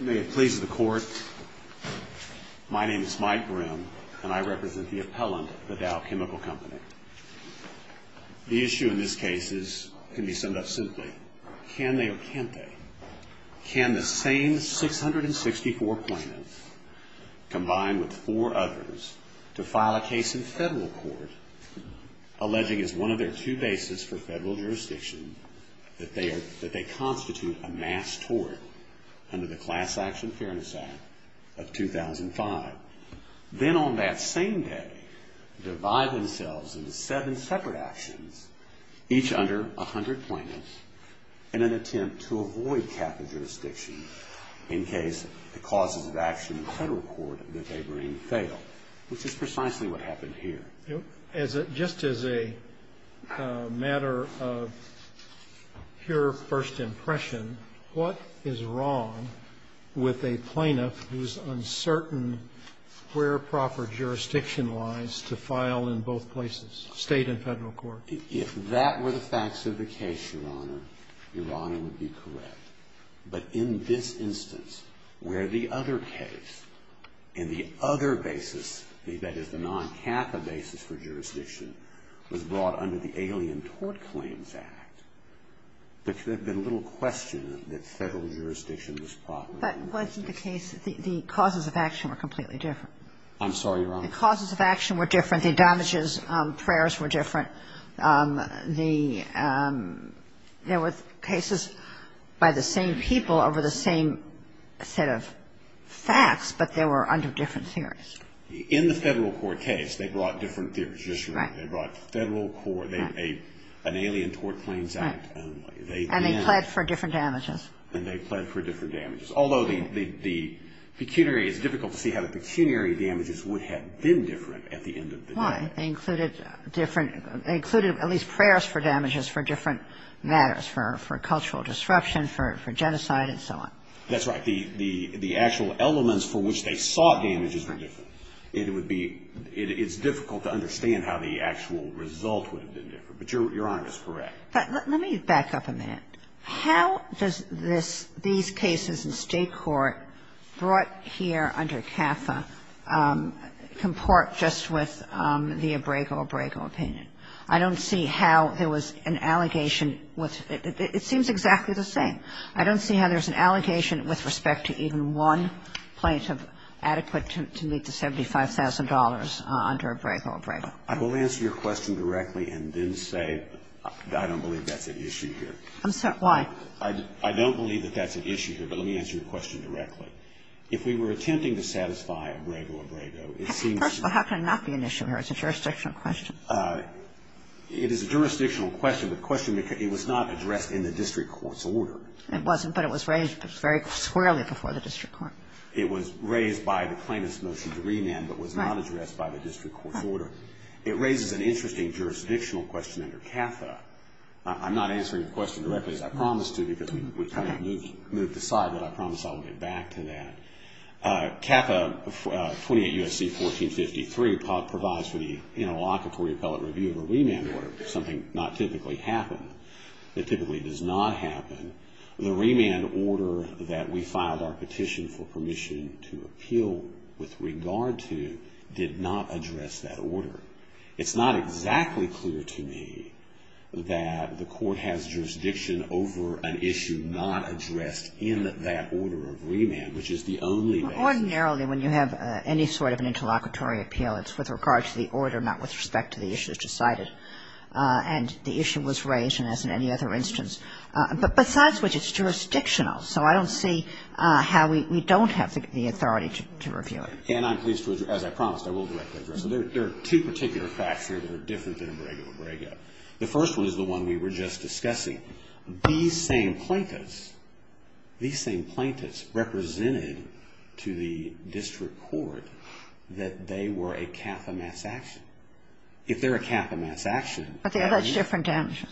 May it please the court, my name is Mike Brim and I represent the appellant at Dow Chemical Company. The issue in this case can be summed up simply, can they or can't they, can the same 664 plaintiffs combined with 4 others to file a case in federal court alleging as one of their two bases for federal jurisdiction that they constitute a mass tort under the Class Action Fairness Act of 2005, then on that same day divide themselves into 7 separate actions, each under 100 plaintiffs, in an attempt to avoid capital jurisdiction in case the causes of action in federal court that they bring fail, which is precisely what happened here. Just as a matter of pure first impression, what is wrong with a plaintiff who is uncertain where proper jurisdiction lies to file in both places, state and federal court? If that were the facts of the case, Your Honor, Your Honor would be correct. But in this instance, where the other case and the other basis, that is the non-kappa basis for jurisdiction, was brought under the Alien Tort Claims Act, there could have been little question that federal jurisdiction was proper. But wasn't the case, the causes of action were completely different? I'm sorry, Your Honor. The causes of action were different. The damages, prayers were different. There were cases by the same people over the same set of facts, but they were under different theories. In the federal court case, they brought different theories of jurisdiction. They brought federal court, an Alien Tort Claims Act only. And they pled for different damages. And they pled for different damages. Although the pecuniary, it's difficult to see how the pecuniary damages would have been different at the end of the day. Why? They included different, they included at least prayers for damages for different matters, for cultural disruption, for genocide and so on. That's right. The actual elements for which they sought damages were different. It would be, it's difficult to understand how the actual result would have been different. But Your Honor is correct. But let me back up a minute. How does this, these cases in State court brought here under CAFA comport just with the Abrego-Abrego opinion? I don't see how there was an allegation with, it seems exactly the same. I don't see how there's an allegation with respect to even one plaintiff adequate to meet the $75,000 under Abrego-Abrego. I will answer your question directly and then say I don't believe that's an issue here. I'm sorry, why? I don't believe that that's an issue here. But let me answer your question directly. If we were attempting to satisfy Abrego-Abrego, it seems. First of all, how can it not be an issue here? It's a jurisdictional question. It is a jurisdictional question. The question, it was not addressed in the district court's order. It wasn't, but it was raised very squarely before the district court. It was raised by the plaintiff's motion to remand but was not addressed by the district court's order. It raises an interesting jurisdictional question under CAFA. I'm not answering your question directly as I promised to because we kind of moved aside, but I promise I will get back to that. CAFA 28 U.S.C. 1453 provides for the interlocutory appellate review of a remand order, something not typically happened, that typically does not happen. The remand order that we filed our petition for permission to appeal with regard to did not address that order. It's not exactly clear to me that the court has jurisdiction over an issue not addressed in that order of remand, which is the only way. Ordinarily, when you have any sort of an interlocutory appeal, it's with regard to the order, not with respect to the issues decided. And the issue was raised, and as in any other instance. But besides which, it's jurisdictional. So I don't see how we don't have the authority to review it. And I'm pleased to, as I promised, I will directly address it. There are two particular facts here that are different than in Brega v. Brega. The first one is the one we were just discussing. These same plaintiffs, these same plaintiffs represented to the district court that they were a CAFA mass action. But they allege different damages.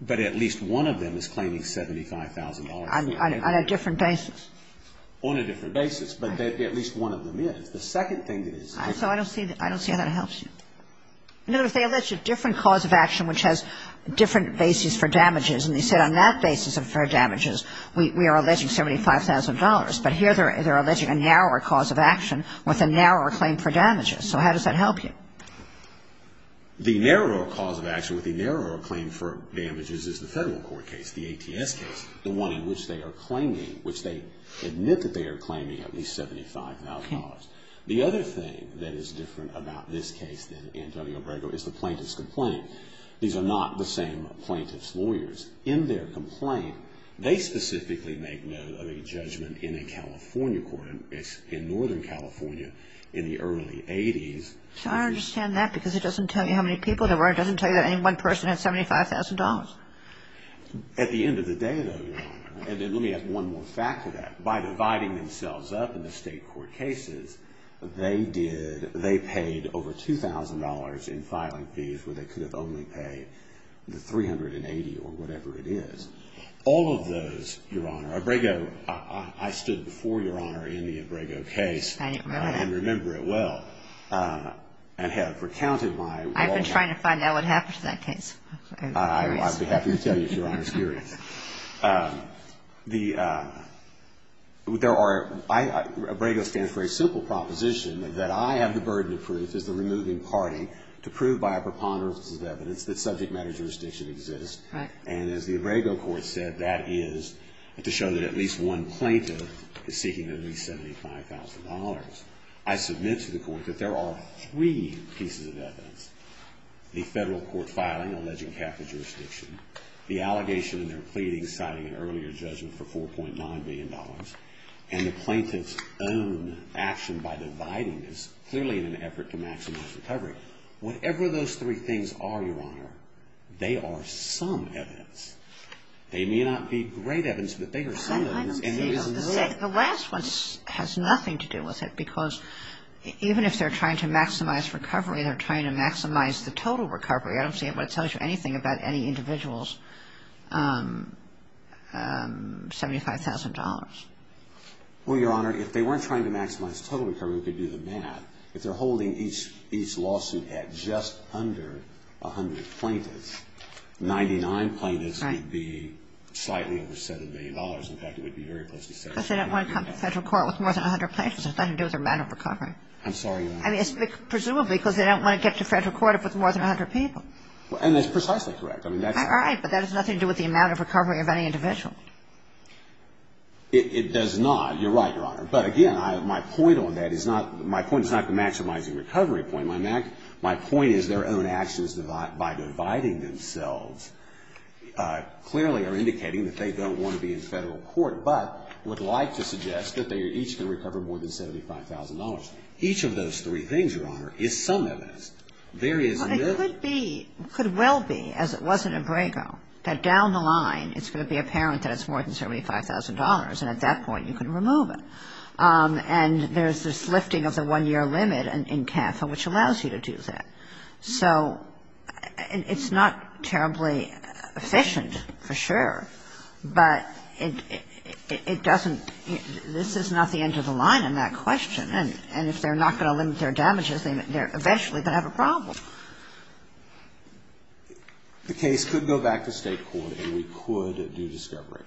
But at least one of them is claiming $75,000. On a different basis. On a different basis. But at least one of them is. The second thing is. So I don't see how that helps you. No, but they allege a different cause of action which has different basis for damages. And they said on that basis for damages, we are alleging $75,000. But here they're alleging a narrower cause of action with a narrower claim for damages. So how does that help you? The narrower cause of action with the narrower claim for damages is the federal court case, the ATS case. The one in which they are claiming, which they admit that they are claiming at least $75,000. The other thing that is different about this case than in W. Brega is the plaintiff's complaint. These are not the same plaintiff's lawyers. In their complaint, they specifically make note of a judgment in a California court. It's in northern California in the early 80s. So I understand that because it doesn't tell you how many people there were. It doesn't tell you that any one person had $75,000. At the end of the day, though, Your Honor, and let me add one more fact to that. By dividing themselves up in the state court cases, they did. They paid over $2,000 in filing fees where they could have only paid the $380 or whatever it is. All of those, Your Honor, W. Brega, I stood before Your Honor in the W. Brega case and remember it well. And have recounted my... I've been trying to find out what happened to that case. I'd be happy to tell you, Your Honor, if you're curious. There are, W. Brega stands for a simple proposition that I have the burden of proof as the removing party to prove by a preponderance of evidence that subject matter jurisdiction exists. And as the W. Brega court said, that is to show that at least one plaintiff is seeking at least $75,000. I submit to the court that there are three pieces of evidence, the federal court filing alleging capital jurisdiction, the allegation in their pleading citing an earlier judgment for $4.9 billion, and the plaintiff's own action by dividing this clearly in an effort to maximize recovery. Whatever those three things are, Your Honor, they are some evidence. They may not be great evidence, but they are some evidence. The last one has nothing to do with it because even if they're trying to maximize recovery, they're trying to maximize the total recovery. I don't see what it tells you anything about any individual's $75,000. Well, Your Honor, if they weren't trying to maximize total recovery, we could do the math. If they're holding each lawsuit at just under 100 plaintiffs, 99 plaintiffs would be slightly over $7 million. In fact, it would be very close to $7 million. Because they don't want to come to federal court with more than 100 plaintiffs. It has nothing to do with their amount of recovery. I'm sorry, Your Honor. I mean, presumably because they don't want to get to federal court with more than 100 people. And that's precisely correct. All right, but that has nothing to do with the amount of recovery of any individual. It does not. You're right, Your Honor. But, again, my point on that is not the maximizing recovery point. My point is their own actions by dividing themselves clearly are indicating that they don't want to be in federal court, but would like to suggest that they are each going to recover more than $75,000. Each of those three things, Your Honor, is some evidence. There is no other. But it could be, could well be, as it was in Abrego, that down the line it's going to be apparent that it's more than $75,000, and at that point you can remove it. And there's this lifting of the one-year limit in CAFA, which allows you to do that. So it's not terribly efficient, for sure, but it doesn't, this is not the end of the line in that question. And if they're not going to limit their damages, they're eventually going to have a problem. The case could go back to state court, and we could do discovery.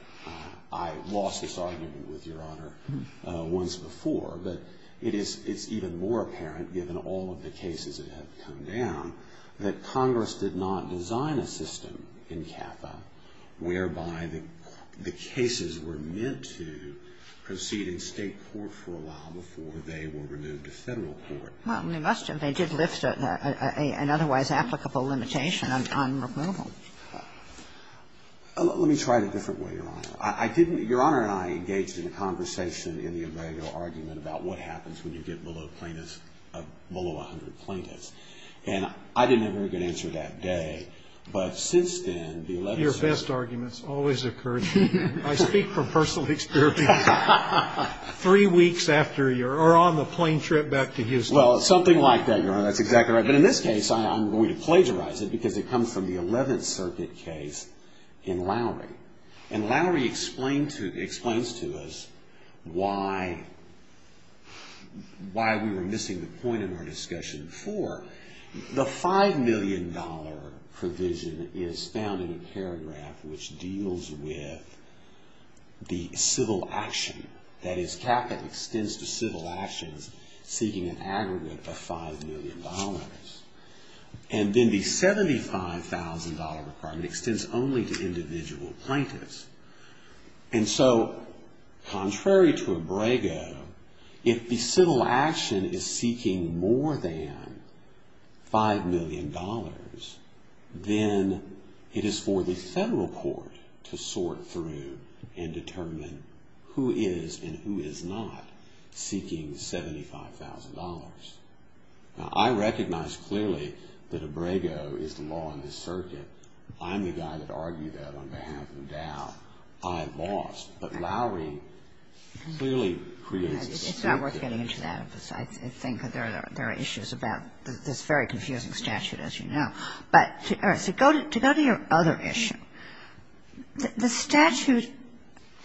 I lost this argument with Your Honor once before, but it is, it's even more apparent, given all of the cases that have come down, that Congress did not design a system in CAFA whereby the cases were meant to proceed in state court for a while before they were removed to federal court. Well, they must have. They did lift an otherwise applicable limitation on removal. Let me try it a different way, Your Honor. I didn't, Your Honor and I engaged in a conversation in the Abrego argument about what happens when you get below plaintiffs, below 100 plaintiffs. And I didn't have a very good answer that day. But since then, the 11th. Your best arguments always occur to me. I speak from personal experience. Three weeks after your, or on the plane trip back to Houston. Well, something like that, Your Honor. That's exactly right. But in this case, I'm going to plagiarize it because it comes from the 11th Circuit case in Lowry. And Lowry explained to, explains to us why, why we were missing the point in our discussion before. The $5 million provision is found in a paragraph which deals with the civil action. That is capital extends to civil actions seeking an aggregate of $5 million. And then the $75,000 requirement extends only to individual plaintiffs. And so, contrary to Abrego, if the civil action is seeking more than $5 million, then it is for the federal court to sort through and determine who is and who is not seeking $75,000. Now, I recognize clearly that Abrego is the law in this circuit. I'm the guy that argued that on behalf of Dow. I lost. But Lowry clearly creates this. It's not worth getting into that. I think there are issues about this very confusing statute, as you know. But to go to your other issue, the statute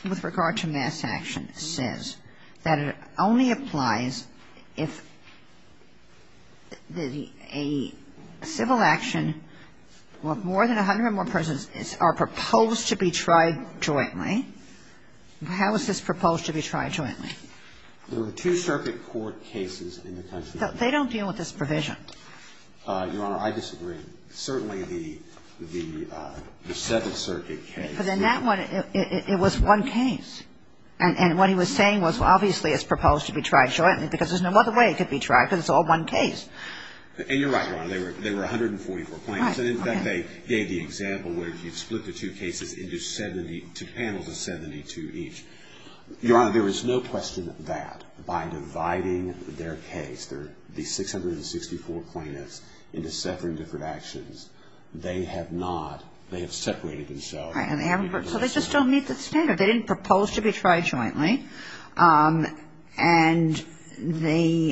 with regard to mass action says that it only applies if a civil action where more than 100 or more persons are proposed to be tried jointly. How is this proposed to be tried jointly? There are two circuit court cases in the country. They don't deal with this provision. Your Honor, I disagree. Certainly, the Seventh Circuit case. But in that one, it was one case. And what he was saying was obviously it's proposed to be tried jointly because there's no other way it could be tried because it's all one case. And you're right, Your Honor. They were 144 plaintiffs. And in fact, they gave the example where you split the two cases into 72 panels of 72 each. Your Honor, there is no question that by dividing their case, the 664 plaintiffs, into seven different actions, they have not, they have separated themselves. Right. So they just don't meet the standard. They didn't propose to be tried jointly. And the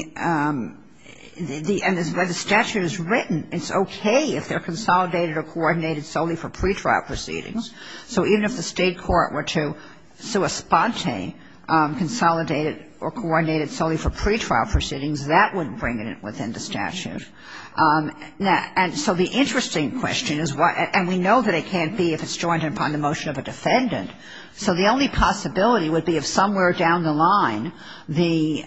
statute is written. It's okay if they're consolidated or coordinated solely for pretrial proceedings. So even if the State court were to sua sponte, consolidate it or coordinate it solely for pretrial proceedings, that wouldn't bring it within the statute. And so the interesting question is why, and we know that it can't be if it's joined upon the motion of a defendant. So the only possibility would be if somewhere down the line the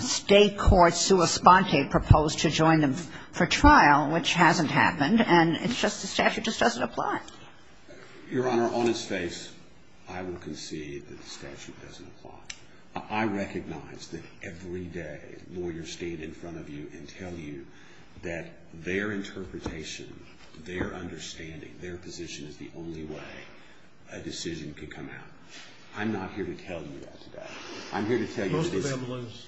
State court sua sponte proposed to join them for trial, which hasn't happened, and it's just the statute doesn't apply. Your Honor, on its face, I will concede that the statute doesn't apply. I recognize that every day lawyers stand in front of you and tell you that their interpretation, their understanding, their position is the only way a decision could come out. I'm not here to tell you that today. I'm here to tell you that it is. Most of them lose.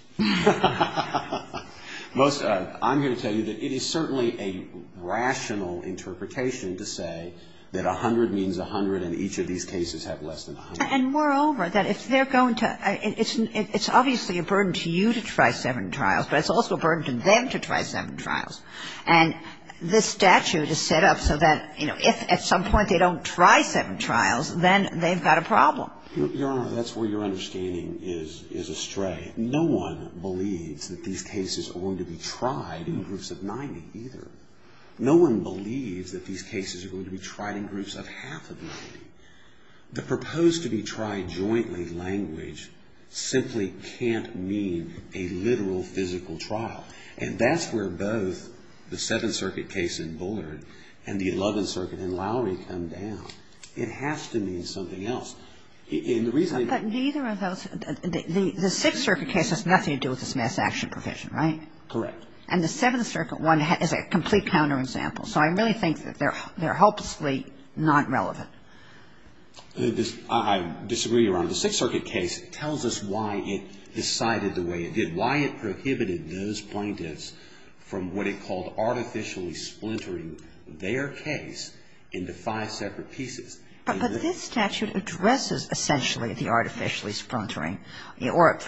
Most of them. I'm here to tell you that it is certainly a rational interpretation to say that 100 means 100 and each of these cases have less than 100. And moreover, that if they're going to – it's obviously a burden to you to try seven trials, but it's also a burden to them to try seven trials. And this statute is set up so that, you know, if at some point they don't try seven trials, then they've got a problem. Your Honor, that's where your understanding is astray. No one believes that these cases are going to be tried in groups of 90 either. No one believes that these cases are going to be tried in groups of half of 90. The proposed-to-be-tried-jointly language simply can't mean a literal, physical trial. And that's where both the Seventh Circuit case in Bullard and the Eleventh Circuit in Lowry come down. It has to mean something else. And the reason I – But neither of those – the Sixth Circuit case has nothing to do with this mass action provision, right? Correct. And the Seventh Circuit one is a complete counterexample. So I really think that they're hopelessly not relevant. I disagree, Your Honor. The Sixth Circuit case tells us why it decided the way it did, why it prohibited those plaintiffs from what it called artificially splintering their case into five separate pieces. But this statute addresses essentially the artificially splintering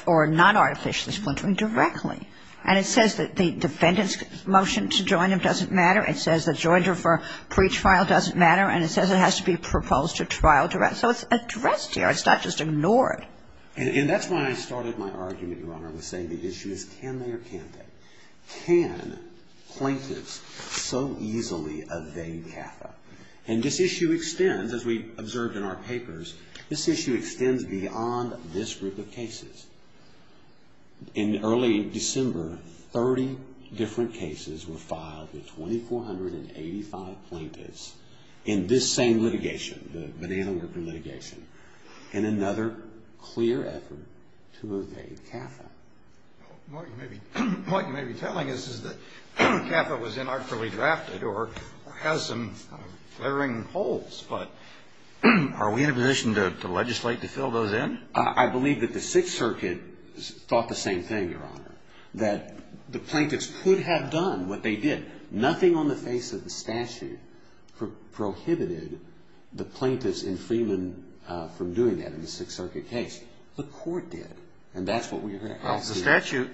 or non-artificially splintering directly. And it says that the defendant's motion to join them doesn't matter. It says the jointer for pre-trial doesn't matter. And it says it has to be proposed to trial direct. So it's addressed here. It's not just ignored. And that's why I started my argument, Your Honor, with saying the issue is can they or can't they? Can plaintiffs so easily evade CAFA? And this issue extends, as we observed in our papers, this issue extends beyond this group of cases. In early December, 30 different cases were filed with 2,485 plaintiffs in this same litigation, the Van Halen worker litigation, in another clear effort to evade CAFA. What you may be telling us is that CAFA was inarticulately drafted or has some flaring holes. But are we in a position to legislate to fill those in? I believe that the Sixth Circuit thought the same thing, Your Honor, that the plaintiffs could have done what they did. Nothing on the face of the statute prohibited the plaintiffs in Freeland from doing that in the Sixth Circuit case. The court did. And that's what we're going to ask you. Well, the statute,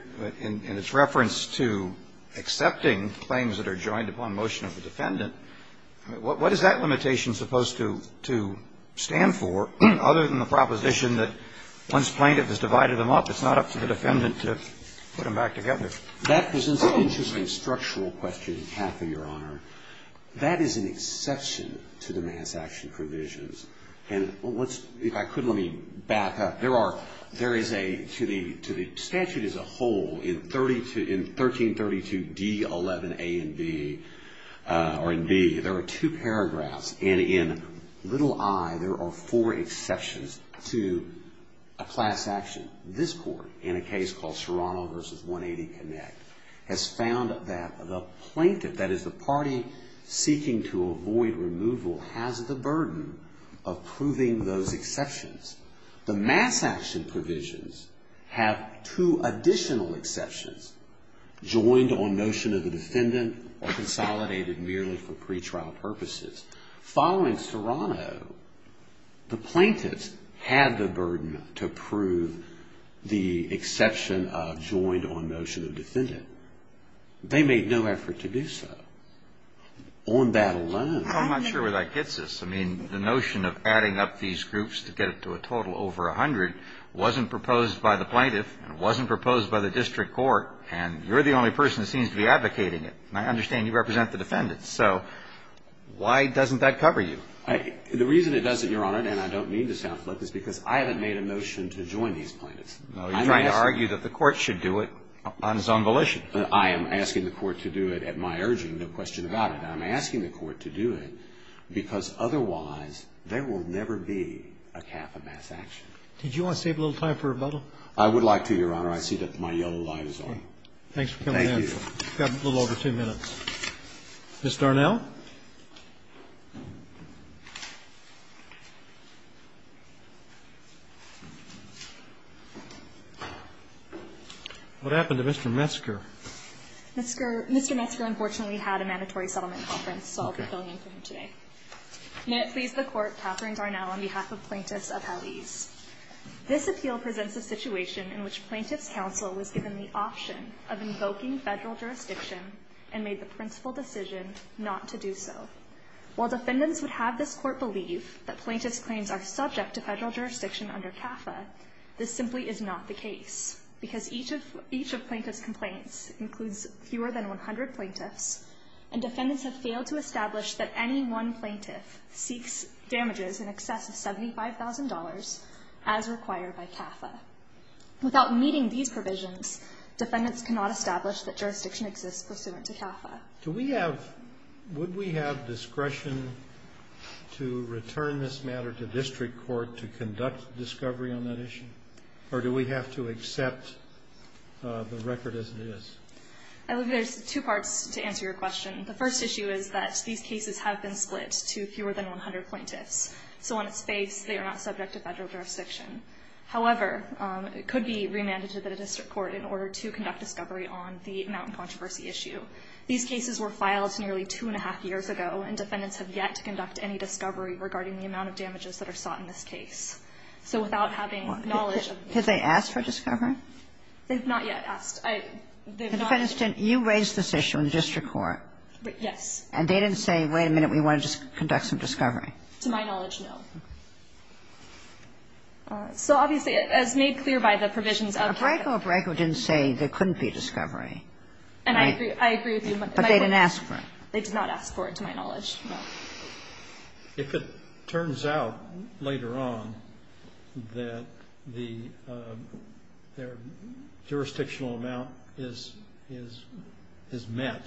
in its reference to accepting claims that are joined upon motion of the defendant, what is that limitation supposed to stand for, other than the proposition that once plaintiff has divided them up, it's not up to the defendant to put them back together? That presents an interesting structural question in CAFA, Your Honor. That is an exception to the mass action provisions. And if I could, let me back up. There are, there is a, to the statute as a whole, in 1332D11A and B, or in B, there are two paragraphs, and in little i, there are four exceptions to a class action. This court, in a case called Serrano v. 180 Connect, has found that the plaintiff, that is the party seeking to avoid removal, has the burden of proving those exceptions. The mass action provisions have two additional exceptions, joined on notion of the defendant, or consolidated merely for pretrial purposes. Following Serrano, the plaintiffs had the burden to prove the exception of joined on notion of defendant. They made no effort to do so. On that alone. I'm not sure where that gets us. I mean, the notion of adding up these groups to get it to a total over 100 wasn't proposed by the plaintiff, and it wasn't proposed by the district court, and you're the only person that seems to be advocating it. And I understand you represent the defendants. So why doesn't that cover you? The reason it doesn't, Your Honor, and I don't mean to sound flippant, is because I haven't made a notion to join these plaintiffs. No, you're trying to argue that the court should do it on its own volition. I am asking the court to do it at my urging, no question about it. I'm asking the court to do it because otherwise there will never be a cap of mass action. Did you want to save a little time for rebuttal? I would like to, Your Honor. I see that my yellow light is on. Thanks for coming in. Thank you. We've got a little over two minutes. Ms. Darnell? What happened to Mr. Metzger? Mr. Metzger unfortunately had a mandatory settlement conference, so I'll be filling in for him today. May it please the Court, Katherine Darnell on behalf of plaintiffs of Hallease. This appeal presents a situation in which plaintiffs' counsel was given the option of invoking Federal jurisdiction and made the principal decision not to do so. While defendants would have this court believe that plaintiffs' claims are subject to Federal jurisdiction under CAFA, this simply is not the case, because each of plaintiffs' complaints includes fewer than 100 plaintiffs, and defendants have failed to establish that any one plaintiff seeks damages in excess of $75,000 as required by CAFA. Without meeting these provisions, defendants cannot establish that jurisdiction exists pursuant to CAFA. Would we have discretion to return this matter to district court to conduct discovery on that issue? Or do we have to accept the record as it is? I believe there's two parts to answer your question. The first issue is that these cases have been split to fewer than 100 plaintiffs, so on its face they are not subject to Federal jurisdiction. However, it could be remanded to the district court in order to conduct discovery on the amount and controversy issue. These cases were filed nearly two and a half years ago, and defendants have yet to conduct any discovery regarding the amount of damages that are sought in this case. So without having knowledge of this case. Could they ask for discovery? They've not yet asked. I don't know. The defendants didn't. You raised this issue in district court. Yes. And they didn't say, wait a minute, we want to conduct some discovery. To my knowledge, no. So obviously, as made clear by the provisions of CAFA. But Braco didn't say there couldn't be discovery. And I agree. I agree with you. But they didn't ask for it. They did not ask for it, to my knowledge, no. If it turns out later on that the jurisdictional amount is met,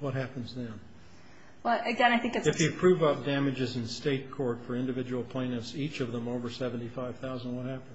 what happens then? Well, again, I think it's If you prove damages in state court for individual plaintiffs, each of them over 75,000, what happens?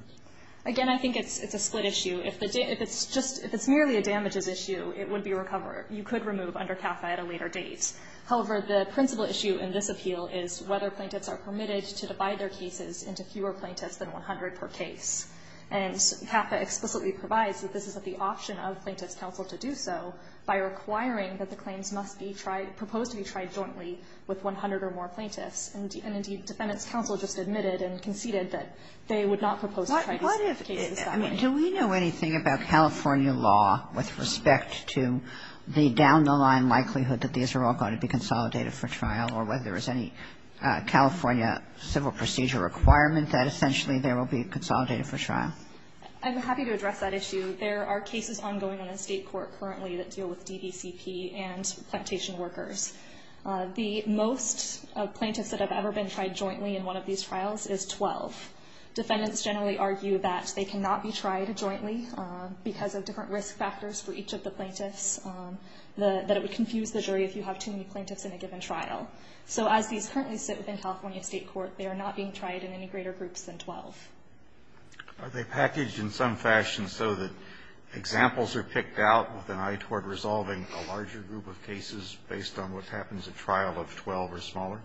Again, I think it's a split issue. If it's merely a damages issue, it would be recovered. You could remove under CAFA at a later date. However, the principal issue in this appeal is whether plaintiffs are permitted to divide their cases into fewer plaintiffs than 100 per case. And CAFA explicitly provides that this is the option of Plaintiffs' Counsel to do so by requiring that the claims must be tried, proposed to be tried jointly with 100 or more plaintiffs. And, indeed, Defendants' Counsel just admitted and conceded that they would not propose to try to split the cases that way. I mean, do we know anything about California law with respect to the down-the-line likelihood that these are all going to be consolidated for trial or whether there is any California civil procedure requirement that essentially there will be a consolidated for trial? I'm happy to address that issue. There are cases ongoing on the state court currently that deal with DBCP and plantation workers. The most plaintiffs that have ever been tried jointly in one of these trials is 12. Defendants generally argue that they cannot be tried jointly because of different risk factors for each of the plaintiffs, that it would confuse the jury if you have too many plaintiffs in a given trial. So as these currently sit within California state court, they are not being tried in any greater groups than 12. Are they packaged in some fashion so that examples are picked out with an eye toward resolving a larger group of cases based on what happens at trial of 12 or smaller?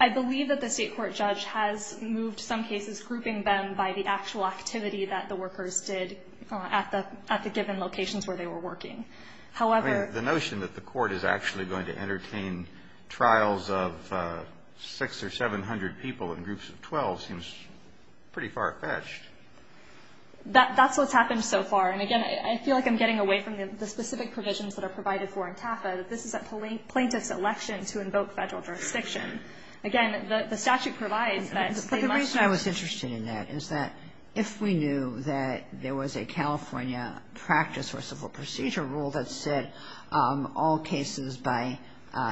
I believe that the state court judge has moved some cases grouping them by the actual activity that the workers did at the given locations where they were working. However the notion that the court is actually going to entertain trials of 600 or 700 people in groups of 12 seems pretty far-fetched. That's what's happened so far. And, again, I feel like I'm getting away from the specific provisions that are provided for in TAFA, that this is a plaintiff's election to invoke Federal jurisdiction. If we knew that there was a California practice or civil procedure rule that said all cases by,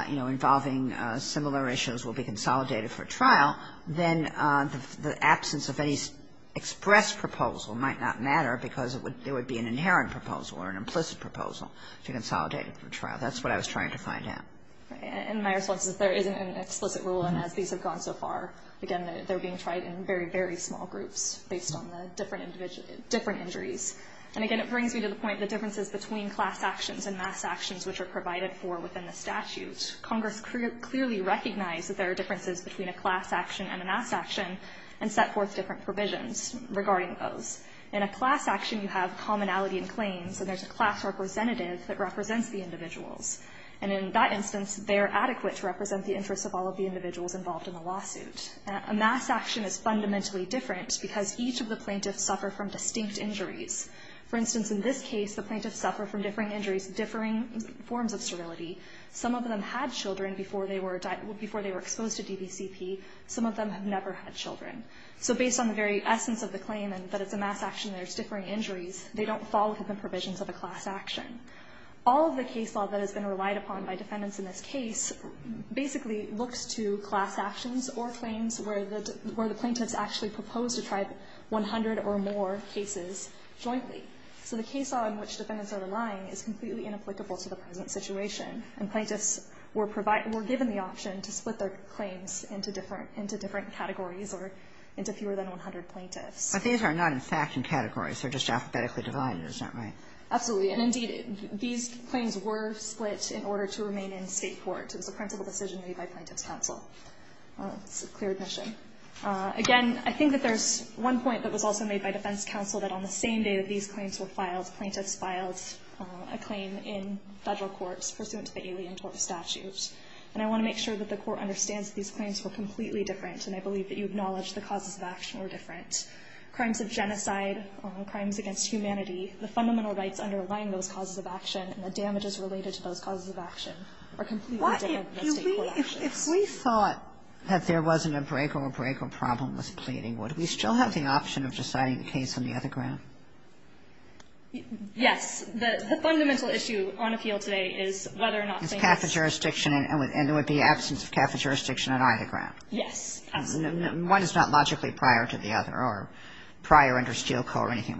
you know, involving similar issues will be consolidated for trial, then the absence of any express proposal might not matter because there would be an inherent proposal or an implicit proposal to consolidate for trial. That's what I was trying to find out. And my response is there isn't an explicit rule, and as these have gone so far, again, they're being tried in very, very small groups based on the different injuries. And, again, it brings me to the point, the differences between class actions and mass actions which are provided for within the statute. Congress clearly recognized that there are differences between a class action and a mass action and set forth different provisions regarding those. In a class action you have commonality and claims, and there's a class representative that represents the individuals. And in that instance they're adequate to represent the interests of all of the individuals involved in the lawsuit. A mass action is fundamentally different because each of the plaintiffs suffer from distinct injuries. For instance, in this case the plaintiffs suffer from differing injuries, differing forms of serality. Some of them had children before they were exposed to DVCP. Some of them have never had children. So based on the very essence of the claim that it's a mass action and there's differing injuries, they don't fall within the provisions of a class action. All of the case law that has been relied upon by defendants in this case basically looks to class actions or claims where the plaintiffs actually propose to try 100 or more cases jointly. So the case law in which defendants are relying is completely inapplicable to the present situation. And plaintiffs were provided or given the option to split their claims into different categories or into fewer than 100 plaintiffs. Kagan. But these are not in fact in categories. They're just alphabetically divided. Isn't that right? And indeed, these claims were split in order to remain in State court. It was a principle decision made by plaintiffs' counsel. It's a clear admission. Again, I think that there's one point that was also made by defense counsel that on the same day that these claims were filed, plaintiffs filed a claim in federal courts pursuant to the Alien Tort Statute. And I want to make sure that the court understands that these claims were completely different, and I believe that you acknowledge the causes of action were different. Crimes of genocide, crimes against humanity, the fundamental rights underlying those causes of action are completely different than State court actions. If we thought that there wasn't a break or a break or problem with pleading, would we still have the option of deciding the case on the other ground? Yes. The fundamental issue on appeal today is whether or not saying it's cafe jurisdiction and there would be absence of cafe jurisdiction on either ground. Yes, absolutely. One is not logically prior to the other or prior under Steele Co. or anything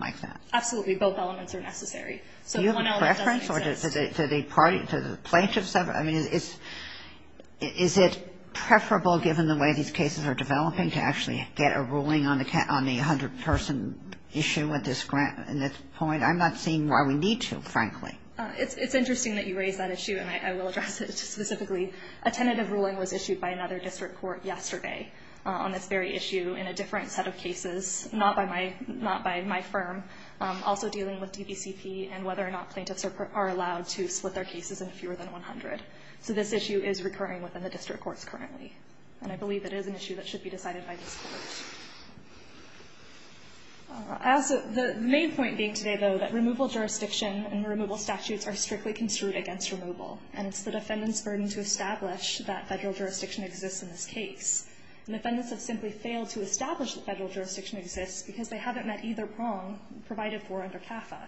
Absolutely. Both elements are necessary. So one element doesn't make sense. To the plaintiffs, I mean, is it preferable given the way these cases are developing to actually get a ruling on the 100-person issue at this point? I'm not seeing why we need to, frankly. It's interesting that you raise that issue, and I will address it specifically. A tentative ruling was issued by another district court yesterday on this very issue in a different set of cases, not by my firm. Also dealing with DVCP and whether or not plaintiffs are allowed to split their cases in fewer than 100. So this issue is recurring within the district courts currently. And I believe it is an issue that should be decided by this court. The main point being today, though, that removal jurisdiction and removal statutes are strictly construed against removal. And it's the defendant's burden to establish that federal jurisdiction exists in this case. And defendants have simply failed to establish that federal jurisdiction exists because they haven't met either prong provided for under CAFA.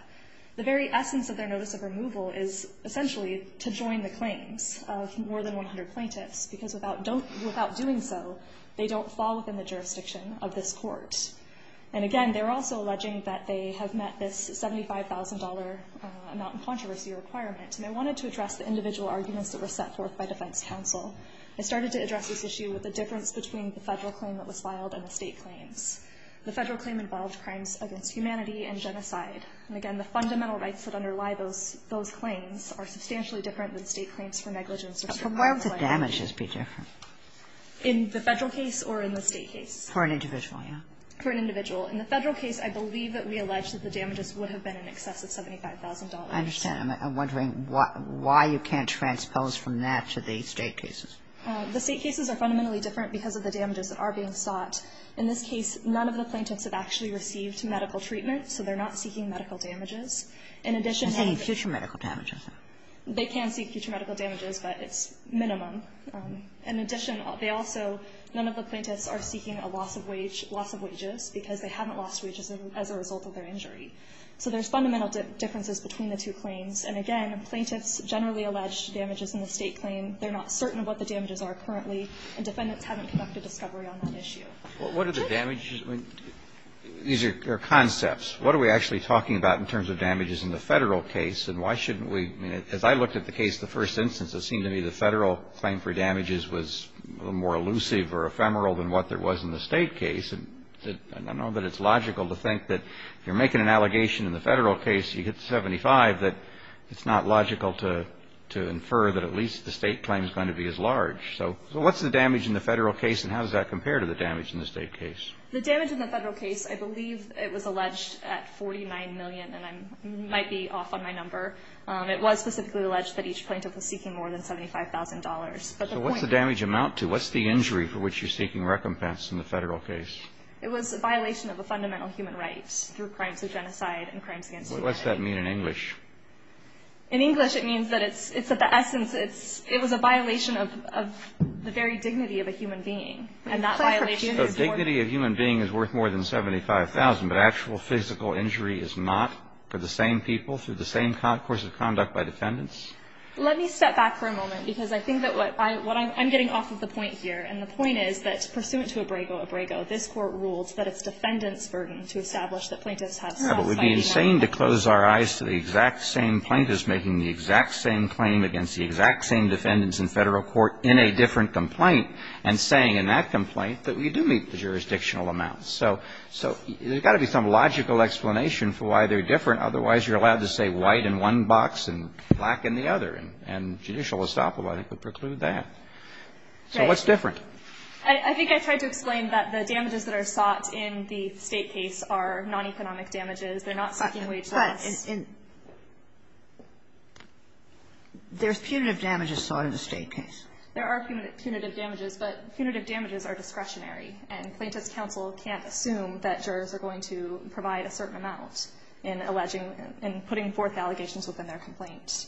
The very essence of their notice of removal is essentially to join the claims of more than 100 plaintiffs because without doing so, they don't fall within the jurisdiction of this court. And again, they're also alleging that they have met this $75,000 amount of controversy requirement. And I wanted to address the individual arguments that were set forth by defense counsel. I started to address this issue with the difference between the federal claim that was filed and the state claims. The federal claim involved crimes against humanity and genocide. And again, the fundamental rights that underlie those claims are substantially different than state claims for negligence. Kagan. But where would the damages be different? In the federal case or in the state case? For an individual, yes. For an individual. In the federal case, I believe that we allege that the damages would have been in excess of $75,000. I understand. I'm wondering why you can't transpose from that to the state cases. The state cases are fundamentally different because of the damages that are being sought. In this case, none of the plaintiffs have actually received medical treatment, so they're not seeking medical damages. In addition to that, the plaintiffs are seeking a loss of wages because they haven't lost wages as a result of their injury. They can seek future medical damages, but it's minimum. In addition, they also – none of the plaintiffs are seeking a loss of wage – loss of wages because they haven't lost wages as a result of their injury. So there's fundamental differences between the two claims. And again, plaintiffs generally allege damages in the state claim. They're not certain of what the damages are currently, and defendants haven't conducted discovery on that issue. Roberts. What are the damages? These are concepts. What are we actually talking about in terms of damages in the Federal case, and why shouldn't we – I mean, as I looked at the case, the first instance, it seemed to me the Federal claim for damages was a little more elusive or ephemeral than what there was in the state case. And I know that it's logical to think that if you're making an allegation in the Federal case, you get 75, that it's not logical to infer that at least the state claim is going to be as large. So what's the damage in the Federal case, and how does that compare to the damage in the state case? The damage in the Federal case, I believe it was alleged at $49 million, and I might be off on my number. It was specifically alleged that each plaintiff was seeking more than $75,000. So what's the damage amount to? What's the injury for which you're seeking recompense in the Federal case? It was a violation of a fundamental human right through crimes of genocide and crimes against humanity. What does that mean in English? In English, it means that it's at the essence, it was a violation of the very dignity of a human being. And that violation is more than 75,000. The dignity of a human being is worth more than 75,000, but actual physical injury is not for the same people through the same course of conduct by defendants? Let me step back for a moment, because I think that what I'm getting off of the point here, and the point is that pursuant to Abrego, Abrego, this Court ruled that it's But it would be insane to close our eyes to the exact same plaintiffs making the exact same claim against the exact same defendants in Federal court in a different complaint and saying in that complaint that we do meet the jurisdictional amounts. So there's got to be some logical explanation for why they're different. Otherwise, you're allowed to say white in one box and black in the other, and judicial estoppel, I think, would preclude that. So what's different? I think I tried to explain that the damages that are sought in the State case are non-economic damages. They're not seeking wage loss. But in the State case, there's punitive damages. There are punitive damages, but punitive damages are discretionary, and Plaintiffs' counsel can't assume that jurors are going to provide a certain amount in alleging and putting forth allegations within their complaint.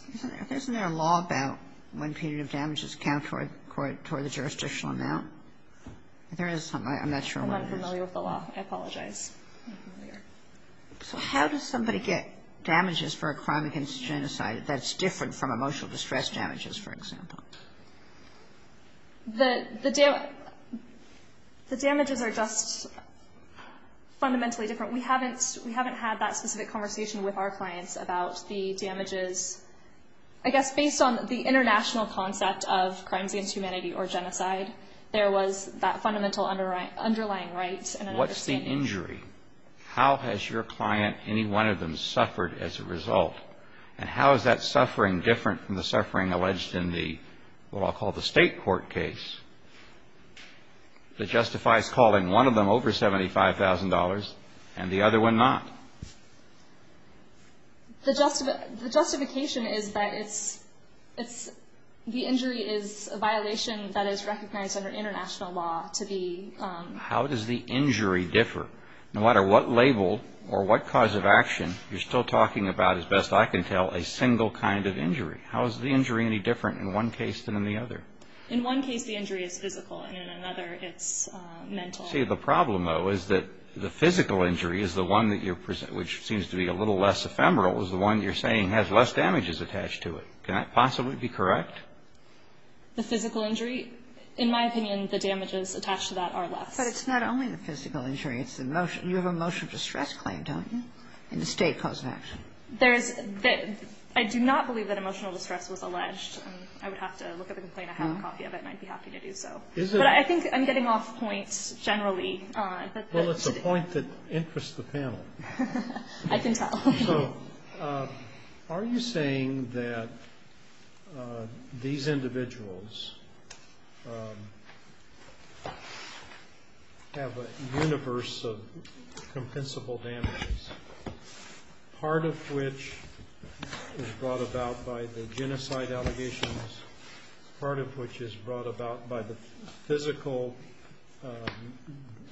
Isn't there a law about when punitive damages count toward the jurisdictional amount? There is something. I'm unfamiliar with the law. I apologize. I'm unfamiliar. So how does somebody get damages for a crime against genocide that's different from emotional distress damages, for example? The damages are just fundamentally different. We haven't had that specific conversation with our clients about the damages. I guess based on the international concept of crimes against humanity or genocide, there was that fundamental underlying right and understanding. If you have an injury, how has your client, any one of them, suffered as a result? And how is that suffering different from the suffering alleged in the, what I'll call the State court case that justifies calling one of them over $75,000 and the other one not? The justification is that it's the injury is a violation that is recognized under international law to be How does the injury differ? No matter what label or what cause of action, you're still talking about, as best I can tell, a single kind of injury. How is the injury any different in one case than in the other? In one case, the injury is physical. In another, it's mental. See, the problem, though, is that the physical injury is the one that you're presenting, which seems to be a little less ephemeral, is the one you're saying has less damages attached to it. Can that possibly be correct? The physical injury? In my opinion, the damages attached to that are less. But it's not only the physical injury. You have a motion of distress claim, don't you, in the State cause of action? There is. I do not believe that emotional distress was alleged. I would have to look at the complaint. I have a copy of it and I'd be happy to do so. But I think I'm getting off point generally. Well, it's a point that interests the panel. I can tell. So are you saying that these individuals have a universe of compensable damages, part of which is brought about by the genocide allegations, part of which is brought about by the physical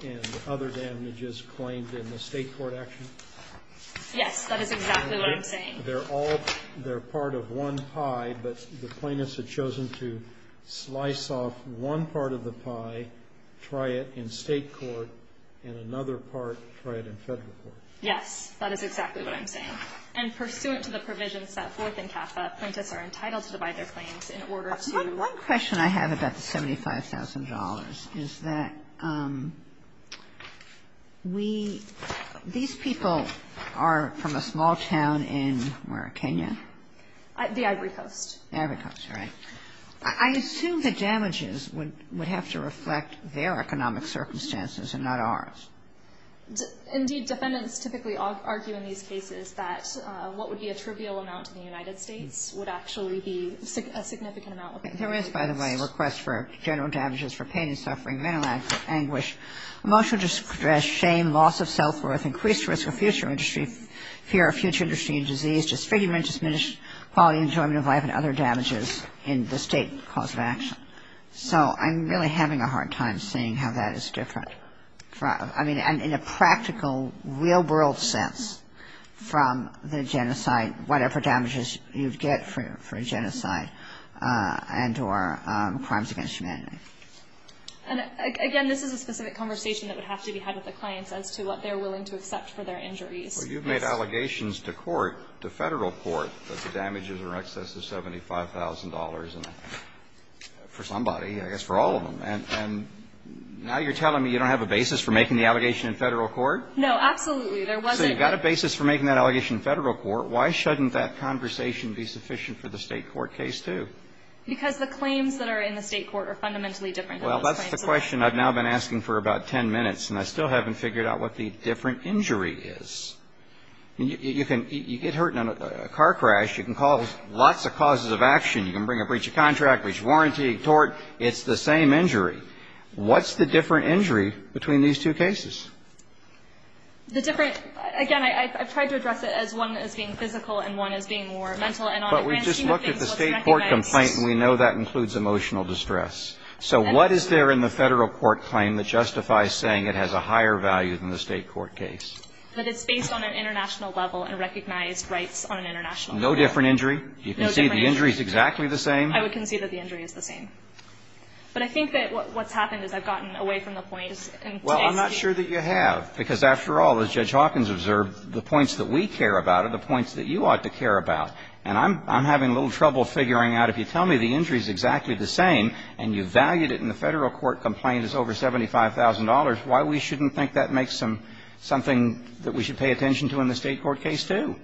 and other damages claimed in the State court action? Yes. That is exactly what I'm saying. They're all part of one pie, but the plaintiffs have chosen to slice off one part of the pie, try it in State court, and another part, try it in Federal court. Yes. That is exactly what I'm saying. And pursuant to the provisions set forth in CAFA, plaintiffs are entitled to divide their claims in order to One question I have about the $75,000 is that we – these people are from a small town in where, Kenya? The Ivory Coast. The Ivory Coast, right. I assume the damages would have to reflect their economic circumstances and not ours. Indeed, defendants typically argue in these cases that what would be a trivial amount in the United States would actually be a significant amount in the United States. There is, by the way, a request for general damages for pain and suffering, mental anguish, emotional distress, shame, loss of self-worth, increased risk of future injury, fear of future injury and disease, disfigurement, diminished quality and enjoyment of life, and other damages in the State cause of action. So I'm really having a hard time seeing how that is different. I mean, in a practical, real-world sense from the genocide, whatever damages you'd get for genocide and or crimes against humanity. And again, this is a specific conversation that would have to be had with the clients as to what they're willing to accept for their injuries. Well, you've made allegations to court, to Federal court, that the damages are in excess of $75,000 for somebody, I guess for all of them. And now you're telling me you don't have a basis for making the allegation in Federal court? No, absolutely. There wasn't. So you've got a basis for making that allegation in Federal court. Why shouldn't that conversation be sufficient for the State court case, too? Because the claims that are in the State court are fundamentally different. Well, that's the question I've now been asking for about 10 minutes, and I still haven't figured out what the different injury is. You get hurt in a car crash. You can call lots of causes of action. You can bring a breach of contract, breach of warranty, tort. It's the same injury. What's the different injury between these two cases? The different – again, I've tried to address it as one as being physical and one as being more mental. But we've just looked at the State court complaint, and we know that includes emotional distress. So what is there in the Federal court claim that justifies saying it has a higher value than the State court case? That it's based on an international level and recognized rights on an international level. No different injury? No different injury. Do you concede the injury is exactly the same? I would concede that the injury is the same. But I think that what's happened is I've gotten away from the points in today's case. Well, I'm not sure that you have, because after all, as Judge Hawkins observed, the points that we care about are the points that you ought to care about. And I'm having a little trouble figuring out if you tell me the injury is exactly the same and you valued it in the Federal court complaint as over $75,000, why we shouldn't think that makes them something that we should pay attention to in the State court case, too?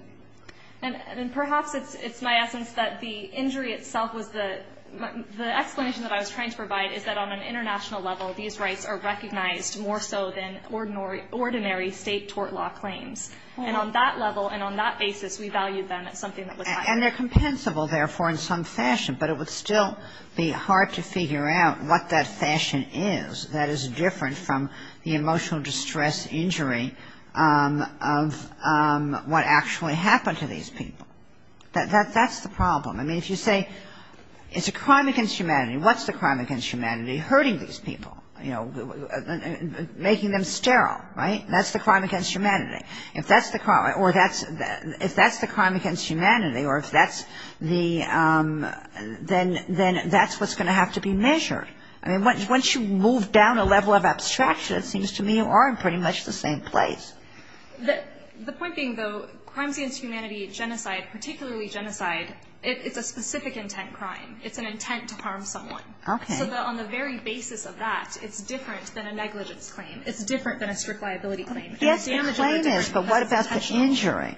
And perhaps it's my essence that the injury itself was the explanation that I was trying to provide is that on an international level, these rights are recognized more so than ordinary State tort law claims. And on that level and on that basis, we valued them as something that was higher. And they're compensable, therefore, in some fashion, but it would still be hard to figure out what that fashion is that is different from the emotional distress injury of what actually happened to these people. That's the problem. I mean, if you say it's a crime against humanity, what's the crime against humanity? Hurting these people, you know, making them sterile, right? That's the crime against humanity. If that's the crime against humanity, or if that's the ‑‑ then that's what's going to have to be measured. I mean, once you move down a level of abstraction, it seems to me you are in pretty much the same place. The point being, though, crime against humanity, genocide, particularly genocide, it's a specific intent crime. It's an intent to harm someone. Okay. So on the very basis of that, it's different than a negligence claim. It's different than a strict liability claim. Yes, the claim is, but what about the injury?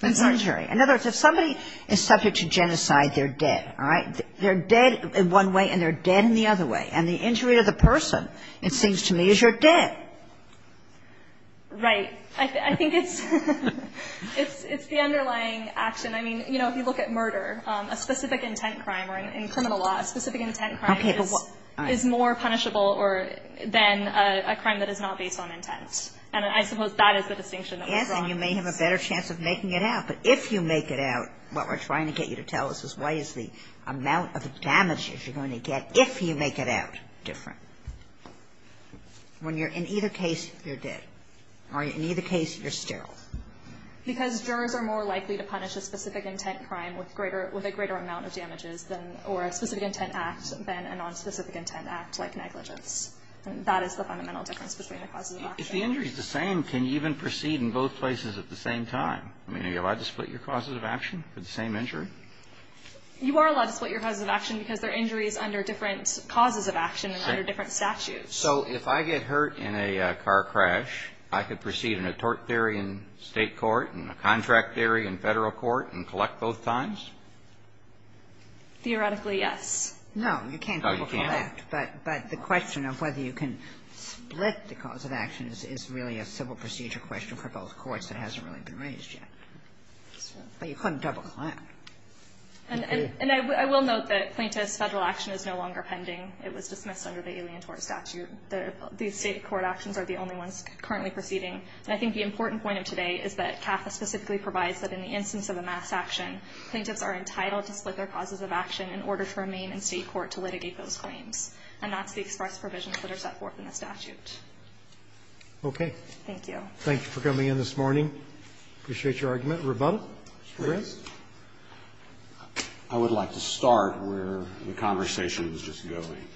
In other words, if somebody is subject to genocide, they're dead, all right? They're dead in one way, and they're dead in the other way. And the injury to the person, it seems to me, is you're dead. Right. I think it's the underlying action. I mean, you know, if you look at murder, a specific intent crime, or in criminal law, a specific intent crime is more punishable than a crime that is not based on intent. And I suppose that is the distinction that we draw. Yes, and you may have a better chance of making it out. But if you make it out, what we're trying to get you to tell us is why is the amount of damages you're going to get if you make it out different? When you're in either case, you're dead. Or in either case, you're sterile. Because jurors are more likely to punish a specific intent crime with greater – with a greater amount of damages than – or a specific intent act than a nonspecific intent act like negligence. And that is the fundamental difference between the causes of action. If the injury is the same, can you even proceed in both places at the same time? I mean, are you allowed to split your causes of action for the same injury? You are allowed to split your causes of action because they're injuries under different causes of action and under different statutes. So if I get hurt in a car crash, I could proceed in a tort theory in State court and a contract theory in Federal court and collect both times? Theoretically, yes. No, you can't. Oh, you can't? But the question of whether you can split the cause of action is really a civil procedure question for both courts that hasn't really been raised yet. But you couldn't double-clamp. And I will note that plaintiff's Federal action is no longer pending. It was dismissed under the Alien Tort Statute. The State court actions are the only ones currently proceeding. And I think the important point of today is that CAFA specifically provides that in the instance of a mass action, plaintiffs are entitled to split their causes of action in order to remain in State court to litigate those claims. And that's the express provisions that are set forth in the statute. Roberts. Thank you. Thank you for coming in this morning. Appreciate your argument. Rebuttal? I would like to start where the conversation was just going.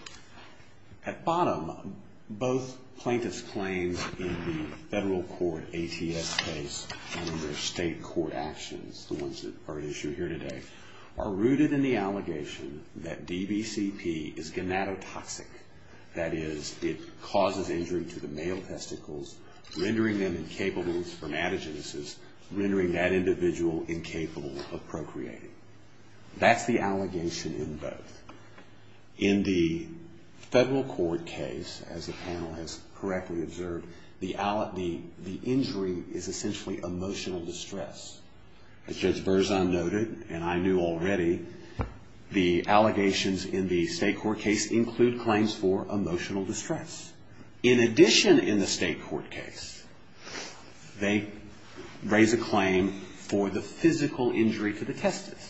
At bottom, both plaintiffs' claims in the Federal court ATS case under State court actions, the ones that are at issue here today, are rooted in the allegation that DBCP is gonadotoxic, that is, it causes injury to the male testicles, rendering them incapable from antigenesis, rendering that individual incapable of procreating. That's the allegation in both. In the Federal court case, as the panel has correctly observed, the injury is essentially emotional distress. As Judge Berzon noted, and I knew already, the allegations in the State court case include claims for emotional distress. In addition in the State court case, they raise a claim for the physical injury to the testis.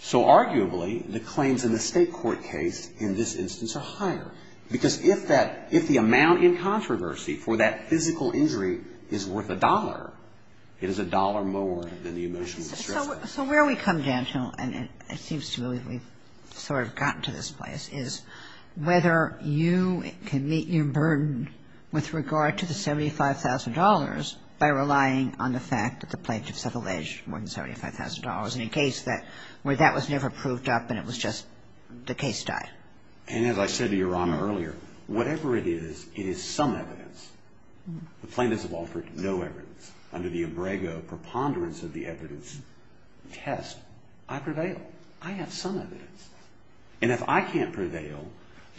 So arguably, the claims in the State court case in this instance are higher. Because if that – if the amount in controversy for that physical injury is worth a dollar, it is a dollar more than the emotional distress. So where we come down to, and it seems to me we've sort of gotten to this place, is whether you can meet your burden with regard to the $75,000 by relying on the fact that the plaintiffs have alleged more than $75,000 in a case where that was never proved up and it was just the case died. And as I said to Your Honor earlier, whatever it is, it is some evidence. The plaintiffs have offered no evidence. Under the embryo preponderance of the evidence test, I prevail. I have some evidence. And if I can't prevail,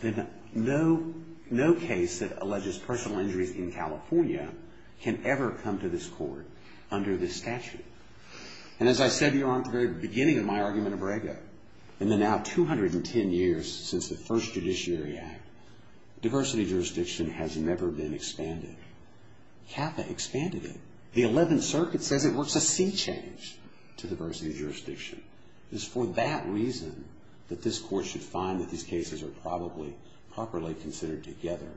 then no case that alleges personal injuries in California can ever come to this court under this statute. And as I said to Your Honor at the very beginning of my argument in Brega, in the now 210 years since the first Judiciary Act, diversity jurisdiction has never been expanded. CAFA expanded it. The 11th Circuit says it works a sea change to diversity jurisdiction. It's for that reason that this Court should find that these cases are probably properly considered together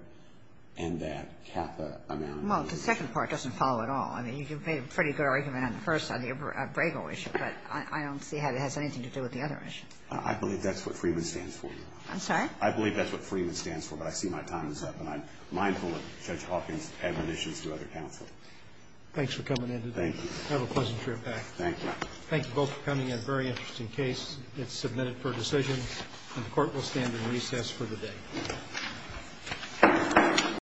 and that CAFA amounted to this. Well, the second part doesn't follow at all. I mean, you made a pretty good argument on the first on the Brega issue, but I don't see how it has anything to do with the other issue. I believe that's what Freeman stands for, Your Honor. I'm sorry? I believe that's what Freeman stands for, but I see my time is up, and I'm mindful of Judge Hawking's admonitions to other counsel. Thanks for coming in today. Thank you. Have a pleasant trip back. Thank you. Thank you both for coming. A very interesting case. It's submitted for decision, and the Court will stand in recess for the day.